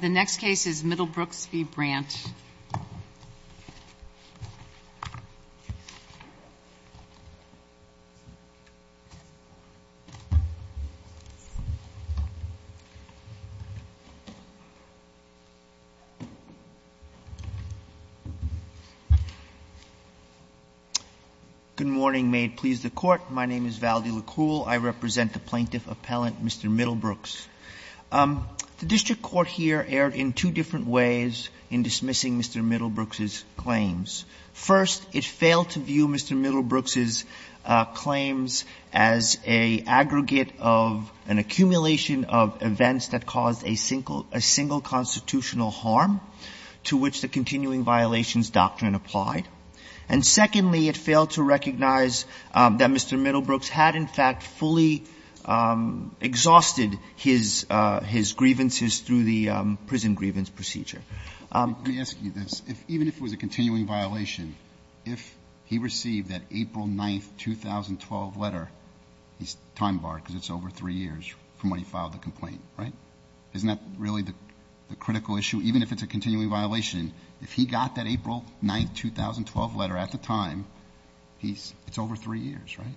The next case is Middlebrooks v. Bradt. Good morning. May it please the Court. My name is Valdi Lekul. I represent the plaintiff appellant, Mr. Middlebrooks. The district court here erred in two different ways in dismissing Mr. Middlebrooks's claims. First, it failed to view Mr. Middlebrooks's claims as an aggregate of an accumulation of events that caused a single constitutional harm to which the continuing violations doctrine applied. And secondly, it failed to recognize that Mr. Middlebrooks had, in fact, fully exhausted his grievances through the prison grievance procedure. Let me ask you this. Even if it was a continuing violation, if he received that April 9, 2012 letter, he's time barred because it's over three years from when he filed the complaint, right? Isn't that really the critical issue? Even if it's a continuing violation, if he got that April 9, 2012 letter at the time, it's over three years, right?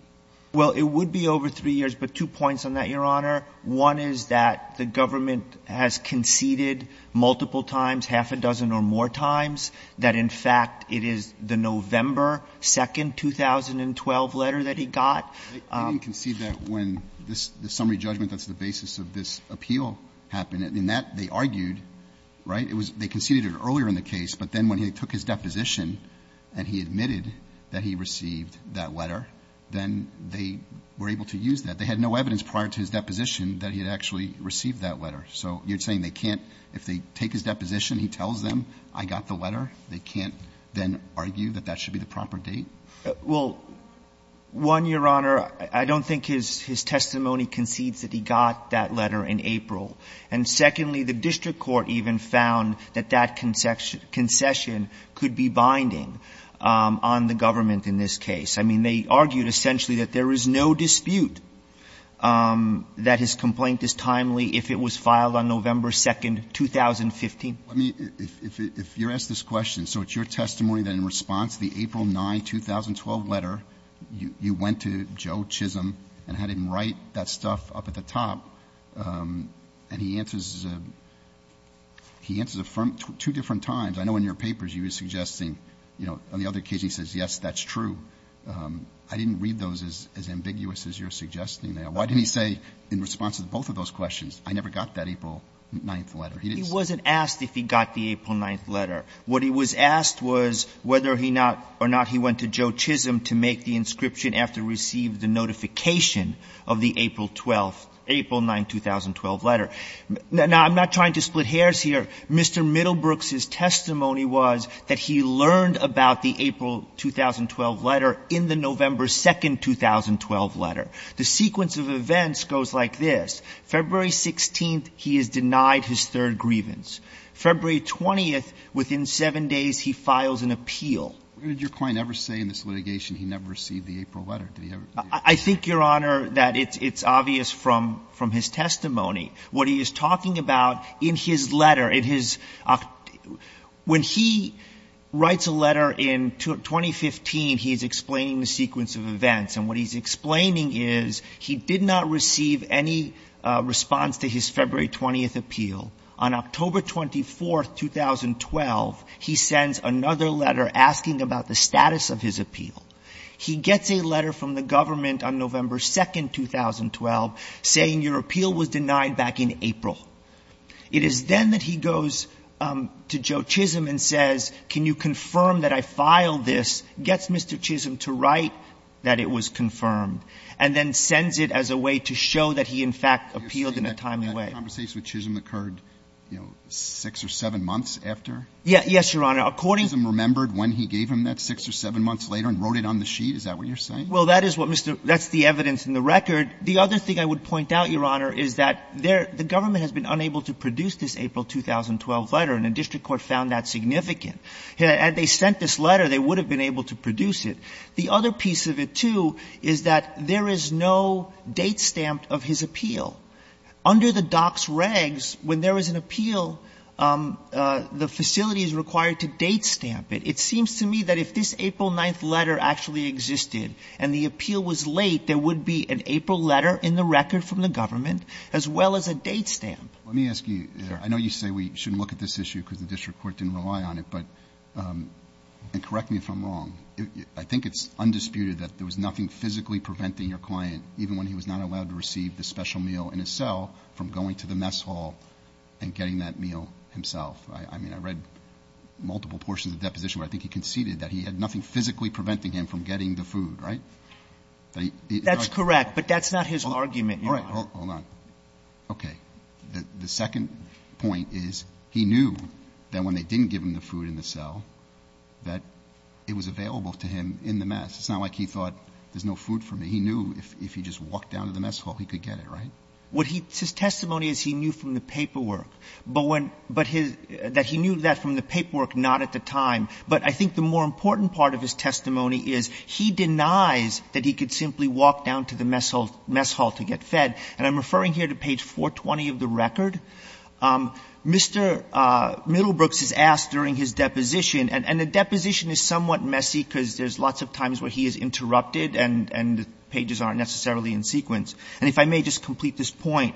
Well, it would be over three years, but two points on that, Your Honor. One is that the government has conceded multiple times, half a dozen or more times, that in fact it is the November 2, 2012 letter that he got. They didn't concede that when the summary judgment that's the basis of this appeal happened. In that, they argued, right? They conceded it earlier in the case, but then when he took his deposition and he admitted that he received that letter, then they were able to use that. They had no evidence prior to his deposition that he had actually received that letter. So you're saying they can't, if they take his deposition, he tells them, I got the letter, they can't then argue that that should be the proper date? Well, one, Your Honor, I don't think his testimony concedes that he got that letter in April. And secondly, the district court even found that that concession could be binding on the government in this case. I mean, they argued essentially that there is no dispute that his complaint is timely if it was filed on November 2, 2015. Let me, if you're asked this question, so it's your testimony that in response to the April 9, 2012 letter, you went to Joe Chisholm and had him write that stuff up at the top, and he answers, he answers two different times. I know in your papers you were suggesting, you know, on the other occasion he says, yes, that's true. I didn't read those as ambiguous as you're suggesting there. Why didn't he say in response to both of those questions, I never got that April 9 letter? He wasn't asked if he got the April 9 letter. What he was asked was whether or not he went to Joe Chisholm to make the inscription after he received the notification of the April 12, April 9, 2012 letter. Now, I'm not trying to split hairs here. Mr. Middlebrooks' testimony was that he learned about the April 2012 letter in the November 2, 2012 letter. The sequence of events goes like this. February 16th, he is denied his third grievance. February 20th, within seven days, he files an appeal. Where did your client ever say in this litigation he never received the April letter? Did he ever? I think, Your Honor, that it's obvious from his testimony. What he is talking about in his letter, in his – when he writes a letter in 2015, he is explaining the sequence of events. And what he's explaining is he did not receive any response to his February 20th appeal. On October 24th, 2012, he sends another letter asking about the status of his appeal. He gets a letter from the government on November 2, 2012, saying your appeal was denied back in April. It is then that he goes to Joe Chisholm and says, can you confirm that I filed this, gets Mr. Chisholm to write that it was confirmed, and then sends it as a way to show that he, in fact, appealed in a timely way. You're saying that that conversation with Chisholm occurred, you know, six or seven months after? Yes, Your Honor. According to – Was it when he gave him that, six or seven months later, and wrote it on the sheet? Is that what you're saying? Well, that is what Mr. – that's the evidence in the record. The other thing I would point out, Your Honor, is that the government has been unable to produce this April 2012 letter, and the district court found that significant. Had they sent this letter, they would have been able to produce it. The other piece of it, too, is that there is no date stamped of his appeal. Under the docs regs, when there is an appeal, the facility is required to date stamp it. It seems to me that if this April 9th letter actually existed, and the appeal was late, there would be an April letter in the record from the government, as well as a date stamp. Let me ask you – I know you say we shouldn't look at this issue because the district court didn't rely on it, but – and correct me if I'm wrong – I think it's undisputed that there was nothing physically preventing your client, even when he was not allowed to receive the special meal in his cell, from going to the mess hall and getting that meal himself. I mean, I read multiple portions of the letter. I think he conceded that he had nothing physically preventing him from getting the food, right? That's correct, but that's not his argument, Your Honor. All right. Hold on. Okay. The second point is he knew that when they didn't give him the food in the cell, that it was available to him in the mess. It's not like he thought, there's no food for me. He knew if he just walked down to the mess hall, he could get it, right? What he – his testimony is he knew from the paperwork. But when – but his – that he knew that from the paperwork, not at the time. But I think the more important part of his testimony is he denies that he could simply walk down to the mess hall to get fed. And I'm referring here to page 420 of the record. Mr. Middlebrooks is asked during his deposition – and the deposition is somewhat messy because there's lots of times where he is interrupted and the pages aren't necessarily in sequence. And if I may just complete this point,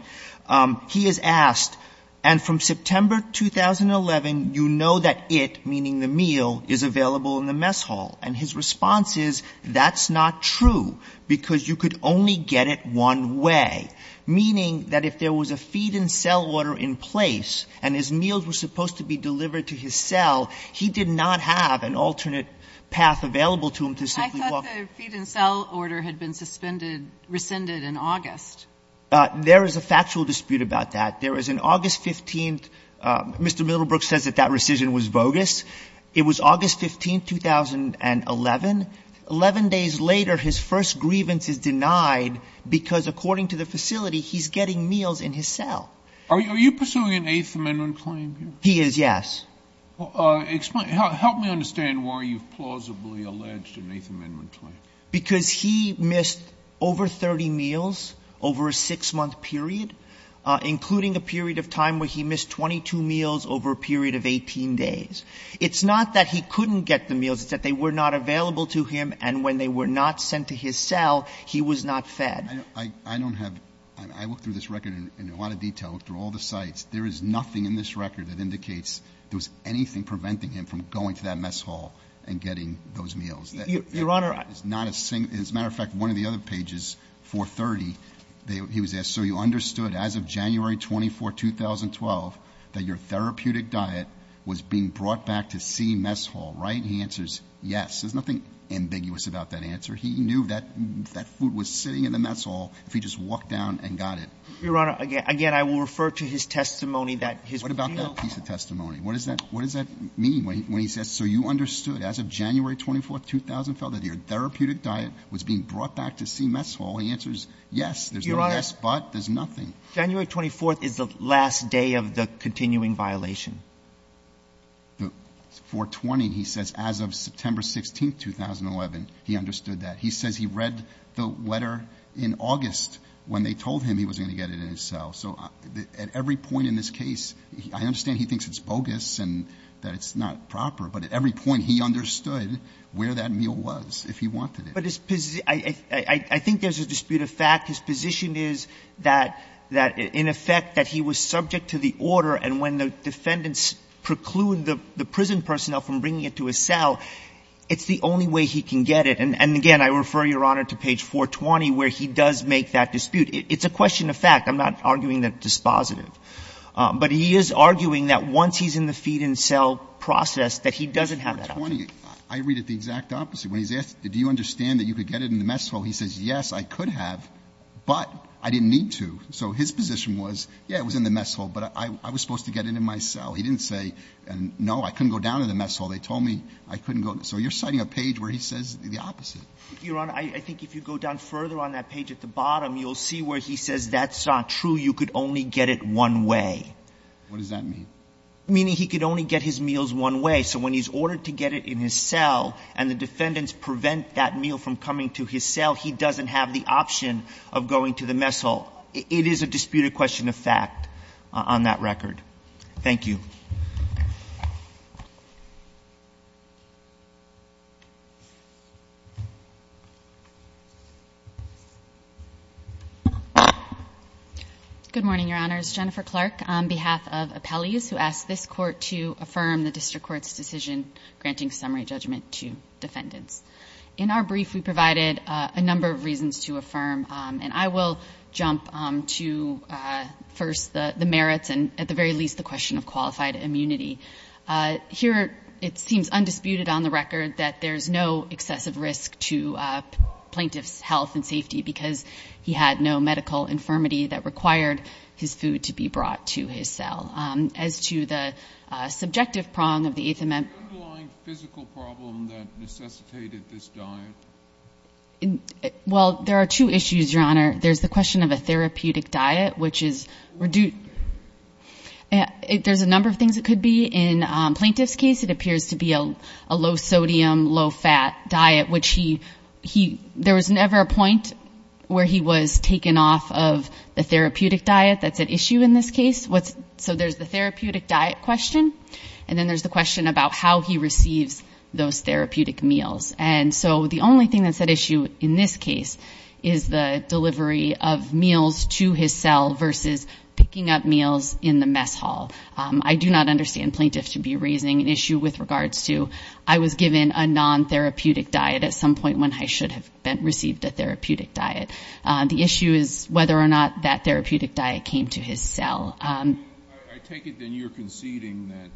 he is asked, and from September 2011, you know that it, meaning the meal, is available in the mess hall. And his response is, that's not true, because you could only get it one way. Meaning that if there was a feed-in-cell order in place, and his meals were supposed to be delivered to his cell, he did not have an alternate path available to him to simply walk. I thought the feed-in-cell order had been suspended – rescinded in August. There is a factual dispute about that. There was an August 15th – Mr. Middlebrooks says that that rescission was bogus. It was August 15, 2011. Eleven days later, his first grievance is denied because, according to the facility, he's getting meals in his cell. Are you pursuing an Eighth Amendment claim here? He is, yes. Help me understand why you've plausibly alleged an Eighth Amendment claim. Because he missed over 30 meals over a six-month period, including a period of time where he missed 22 meals over a period of 18 days. It's not that he couldn't get the meals. It's that they were not available to him, and when they were not sent to his cell, he was not fed. I don't have – I looked through this record in a lot of detail, looked through all the sites. There is nothing in this record that indicates there was anything preventing him from going to that mess hall and getting those meals. Your Honor – It's not a – as a matter of fact, one of the other pages, 430, he was asked, so you understood as of January 24, 2012, that your therapeutic diet was being brought back to C mess hall, right? He answers, yes. There's nothing ambiguous about that answer. He knew that food was sitting in the mess hall if he just walked down and got it. Your Honor, again, I will refer to his testimony that his – What about that piece of testimony? What does that mean when he says, So you understood as of January 24, 2012, that your therapeutic diet was being brought back to C mess hall. He answers, yes. There's no yes but. There's nothing. January 24 is the last day of the continuing violation. 420, he says, as of September 16, 2011, he understood that. He says he read the letter in August when they told him he was going to get it in his cell. So at every point in this case, I understand he thinks it's bogus and that it's not proper, but at every point he understood where that meal was, if he wanted it. But his – I think there's a dispute of fact. His position is that in effect that he was subject to the order and when the defendants preclude the prison personnel from bringing it to his cell, it's the only way he can get it. And again, I refer, Your Honor, to page 420 where he does make that dispute. It's a question of fact. I'm not arguing that it's dispositive. But he is arguing that once he's in the feed-in-cell process, that he doesn't have that option. But 420, I read it the exact opposite. When he's asked, do you understand that you could get it in the mess hall, he says, yes, I could have, but I didn't need to. So his position was, yeah, it was in the mess hall, but I was supposed to get it in my cell. He didn't say, no, I couldn't go down to the mess hall. They told me I couldn't go. So you're citing a page where he says the opposite. Your Honor, I think if you go down further on that page at the bottom, you'll see where he says that's not true. You could only get it one way. What does that mean? Meaning he could only get his meals one way. So when he's ordered to get it in his cell and the defendants prevent that meal from coming to his cell, he doesn't have the option of going to the mess hall. It is a disputed question of fact on that record. Thank you. Good morning, Your Honors. Jennifer Clark on behalf of Appellees, who asked this Court to affirm the District Court's decision granting summary judgment to defendants. In our brief, we provided a number of reasons to affirm, and I will jump to first the merits and at the very least the question of qualified immunity. Here, it seems undisputed on the record that there's no excessive risk to medical infirmity that required his food to be brought to his cell. As to the subjective prong of the Eighth Amendment... Is there an underlying physical problem that necessitated this diet? Well, there are two issues, Your Honor. There's the question of a therapeutic diet, which is... There's a number of things it could be. In Plaintiff's case, it appears to be a low-sodium, low-fat diet, which he There was never a point where he was taken off of the therapeutic diet that's at issue in this case. So there's the therapeutic diet question, and then there's the question about how he receives those therapeutic meals. And so the only thing that's at issue in this case is the delivery of meals to his cell versus picking up meals in the mess hall. I do not understand Plaintiffs should be raising an issue with regards to I was given a non-therapeutic diet at some point when I should have received a therapeutic diet. The issue is whether or not that therapeutic diet came to his cell. I take it then you're conceding that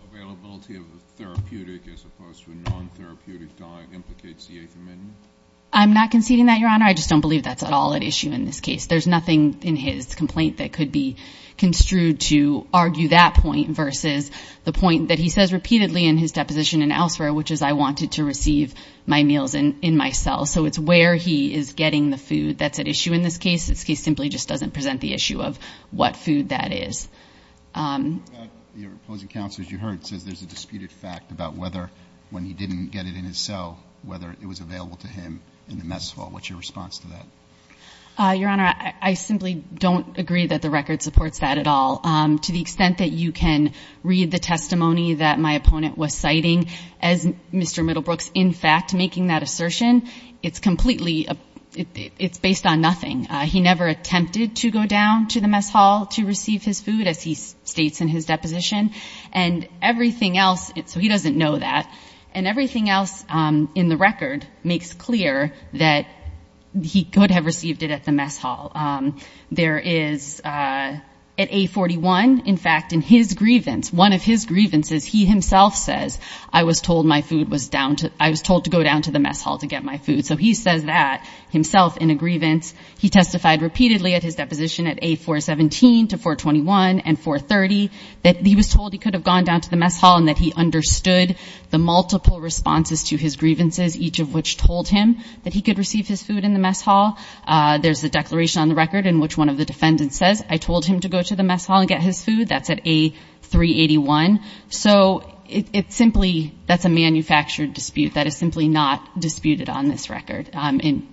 the availability of a therapeutic as opposed to a non-therapeutic diet implicates the Eighth Amendment? I'm not conceding that, Your Honor. I just don't believe that's at all at issue in this case. There's nothing in his complaint that could be construed to argue that point versus the point that he says repeatedly in his deposition and elsewhere, which is I wanted to receive my meals in my cell. So it's where he is getting the food that's at issue in this case. This case simply just doesn't present the issue of what food that is. Your opposing counsel, as you heard, says there's a disputed fact about whether when he didn't get it in his cell, whether it was available to him in the mess hall. What's your response to that? Your Honor, I simply don't agree that the record supports that at all. To the extent that you can read the testimony that my opponent was citing as Mr. Middlebrooks in fact making that assertion, it's completely, it's based on nothing. He never attempted to go down to the mess hall to receive his food, as he states in his deposition. And everything else, so he doesn't know that, and everything else in the record makes clear that he could have received it at the mess hall. There is, at A41, in fact, in his grievance, one of his grievances, he himself says, I was told my food was down to, I was told to go down to the mess hall to get my food. So he says that himself in a grievance. He testified repeatedly at his deposition at A417 to 421 and 430 that he was told he could have gone down to the mess hall and that he understood the multiple responses to his grievances, each of which told him that he could receive his food in the mess hall. There's a declaration on the record in which one of the defendants says, I told him to go to the mess hall and get his food. That's at A381. So it's simply, that's a manufactured dispute that is simply not disputed on this record in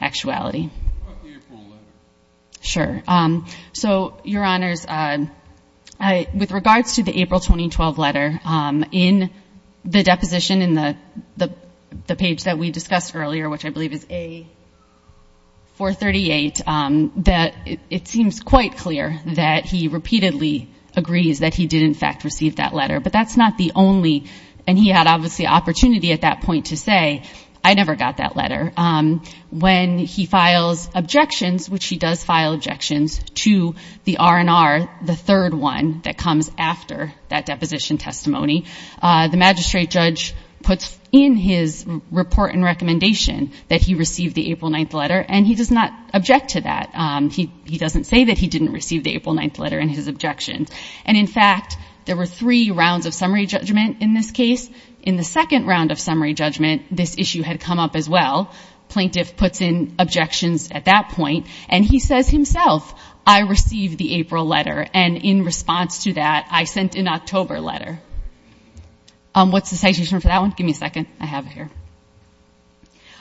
actuality. What about the April letter? Sure. So, Your Honors, with regards to the April 2012 letter, in the deposition, in the page that we discussed earlier, which I believe is A438, it seems quite clear that he repeatedly agrees that he did in fact receive that letter. But that's not the only, and he had obviously opportunity at that point to say, I never got that letter. When he files objections, which he does file objections to the R&R, the third one that comes after that deposition testimony, the magistrate judge puts in his report and recommendation that he received the April 9th letter and he does not object to that. He doesn't say that he didn't receive the April 9th letter in his objections. And in fact, there were three rounds of summary judgment in this case. In the second round of summary judgment, this issue had come up as well. Plaintiff puts in objections at that point and he says himself, I received the April letter and in response to that, I sent an October letter. What's the citation for that one? Give me a second. I have it here.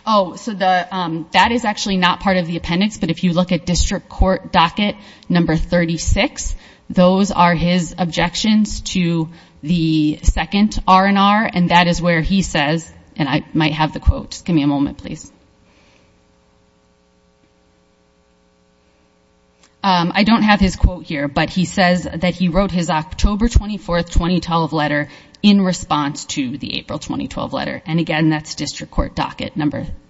Oh, so that is actually not part of the appendix, but if you look at district court docket number 36, those are his objections to the second R&R and that is where he says, and I might have the quote, just give me a moment, please. I don't have his quote here, but he says that he wrote his October 24th, 2012 letter in response to the April 2012 letter. And again, that's district court docket,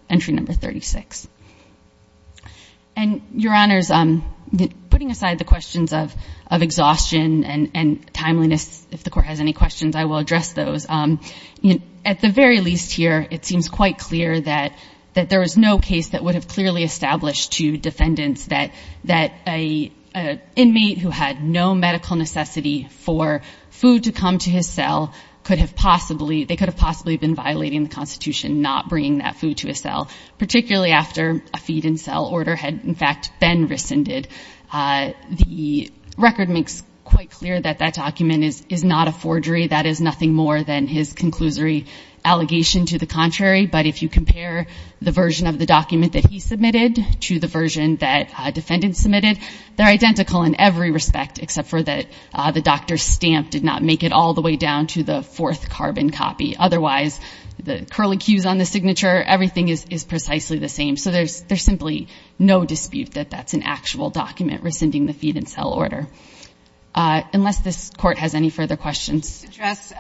entry number 36. And your honors, putting aside the questions of exhaustion and timeliness, if the court has any questions, I will address those. At the very least here, it seems quite clear that there is no case that would have clearly established to defendants that an inmate who had no medical necessity for food to come to his cell could have possibly, they could have possibly been violating the Constitution not bringing that food to his cell, particularly after a feed-in-cell order had in fact been rescinded. The record makes quite clear that that document is not a forgery. That is nothing more than his conclusory allegation to the contrary, but if you compare the version of the document that he submitted to the version that defendants submitted, they're identical in every respect except for that the doctor's stamp did not make it all the way down to the fourth carbon copy. Otherwise, the curlicues on the signature, everything is precisely the same. So there's simply no dispute that that's an actual document rescinding the feed-in-cell order. Unless this court has any further questions. I'll address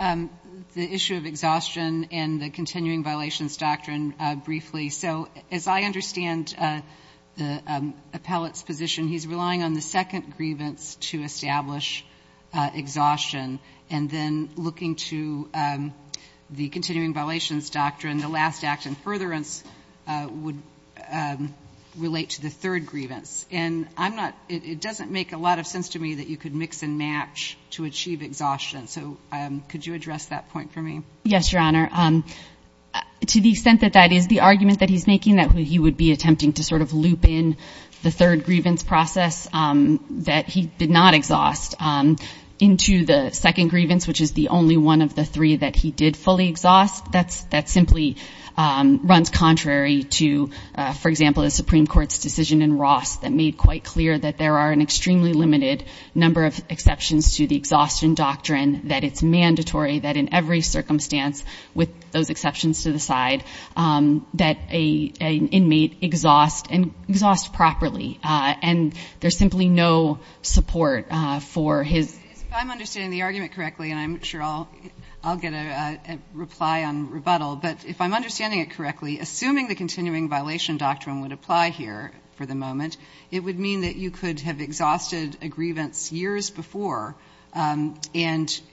the issue of exhaustion and the continuing violations doctrine briefly. So as I understand the appellate's position, he's relying on the second grievance to establish exhaustion and then looking to the continuing violations doctrine, the last act in furtherance would relate to the third grievance. And I'm not, it doesn't make a lot of sense to me that you could mix and match to achieve exhaustion. So could you address that point for me? Yes, Your Honor. To the extent that that is the argument that he's making that he would be attempting to sort of loop in the third grievance process that he did not exhaust into the second grievance, which is the only one of the three that he did fully exhaust. That simply runs contrary to, for example, the Supreme Court's decision in Ross that made quite clear that there are an extremely limited number of exceptions to the exhaustion doctrine that it's mandatory that in every circumstance with those exceptions to the side that an inmate exhaust and exhaust properly. And there's simply no support for his... If I'm understanding the argument correctly, and I'm sure I'll get a reply on rebuttal, but if I'm understanding it correctly, assuming the continuing violation doctrine would apply here for the moment, it would mean that you could have exhausted a grievance years before and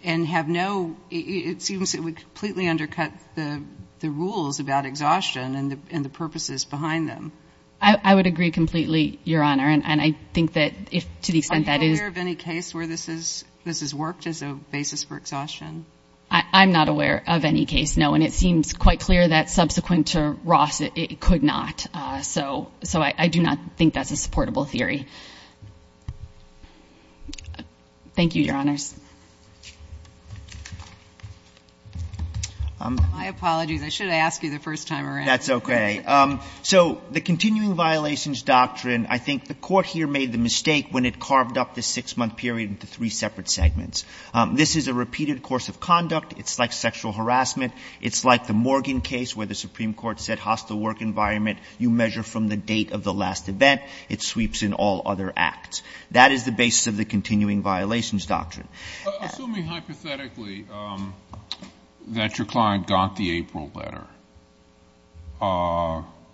have no, it seems it would completely undercut the rules about exhaustion and the purposes behind them. I would agree completely, Your Honor, and I think that to the extent that is... Are you aware of any case where this has worked as a basis for exhaustion? I'm not aware of any case, no, and it seems quite clear that subsequent to Ross it could not. So I do not think that's a supportable theory. Thank you, Your Honors. My apologies. I should have asked you the first time around. That's okay. So the continuing violations doctrine, I think the Court here made the mistake when it carved up the six-month period into three separate segments. This is a repeated course of conduct. It's like sexual harassment. It's like the Morgan case where the Supreme Court said hostile work environment, you measure from the date of the last event. It sweeps in all other acts. That is the basis of the continuing violations doctrine. Assuming hypothetically that your client got the April letter,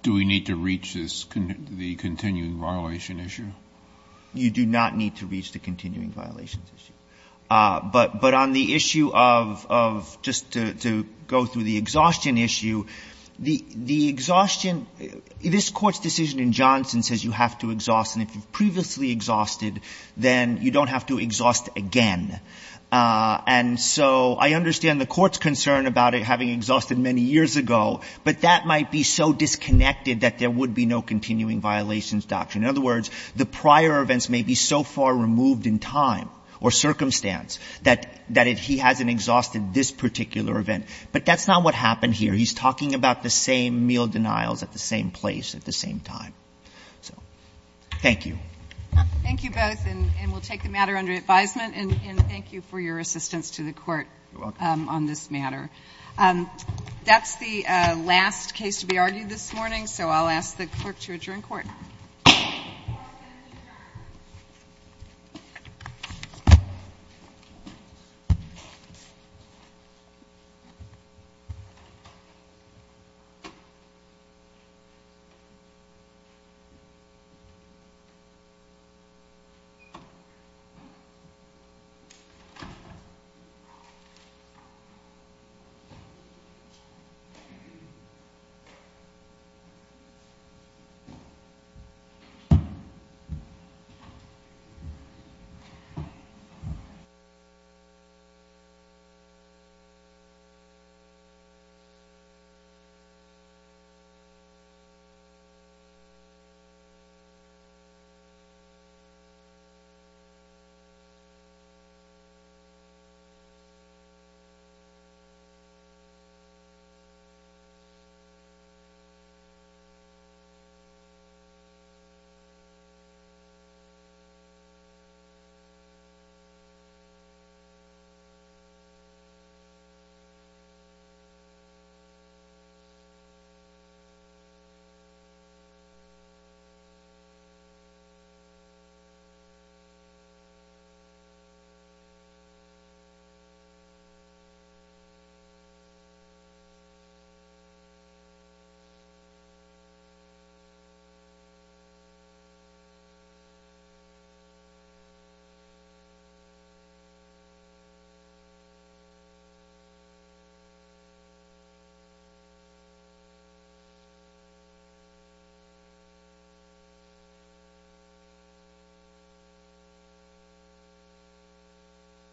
do we need to reach the continuing violation issue? You do not need to reach the continuing violations issue. But on the issue of, just to go through the exhaustion issue, the exhaustion... This Court's decision in Johnson says you have to exhaust, and if you've previously exhausted, then you don't have to exhaust again. And so I understand the Court's concern about it having exhausted many years ago, but that might be so disconnected that there would be no continuing violations doctrine. In other words, the prior events may be so far removed in time or circumstance that he hasn't exhausted this particular event. But that's not what happened here. He's talking about the same meal denials at the same place at the same time. So, thank you. Thank you both. And we'll take the matter under advisement and thank you for your assistance to the Court on this matter. That's the last case to be argued this morning, so I'll ask the Clerk to adjourn Court. Thank you.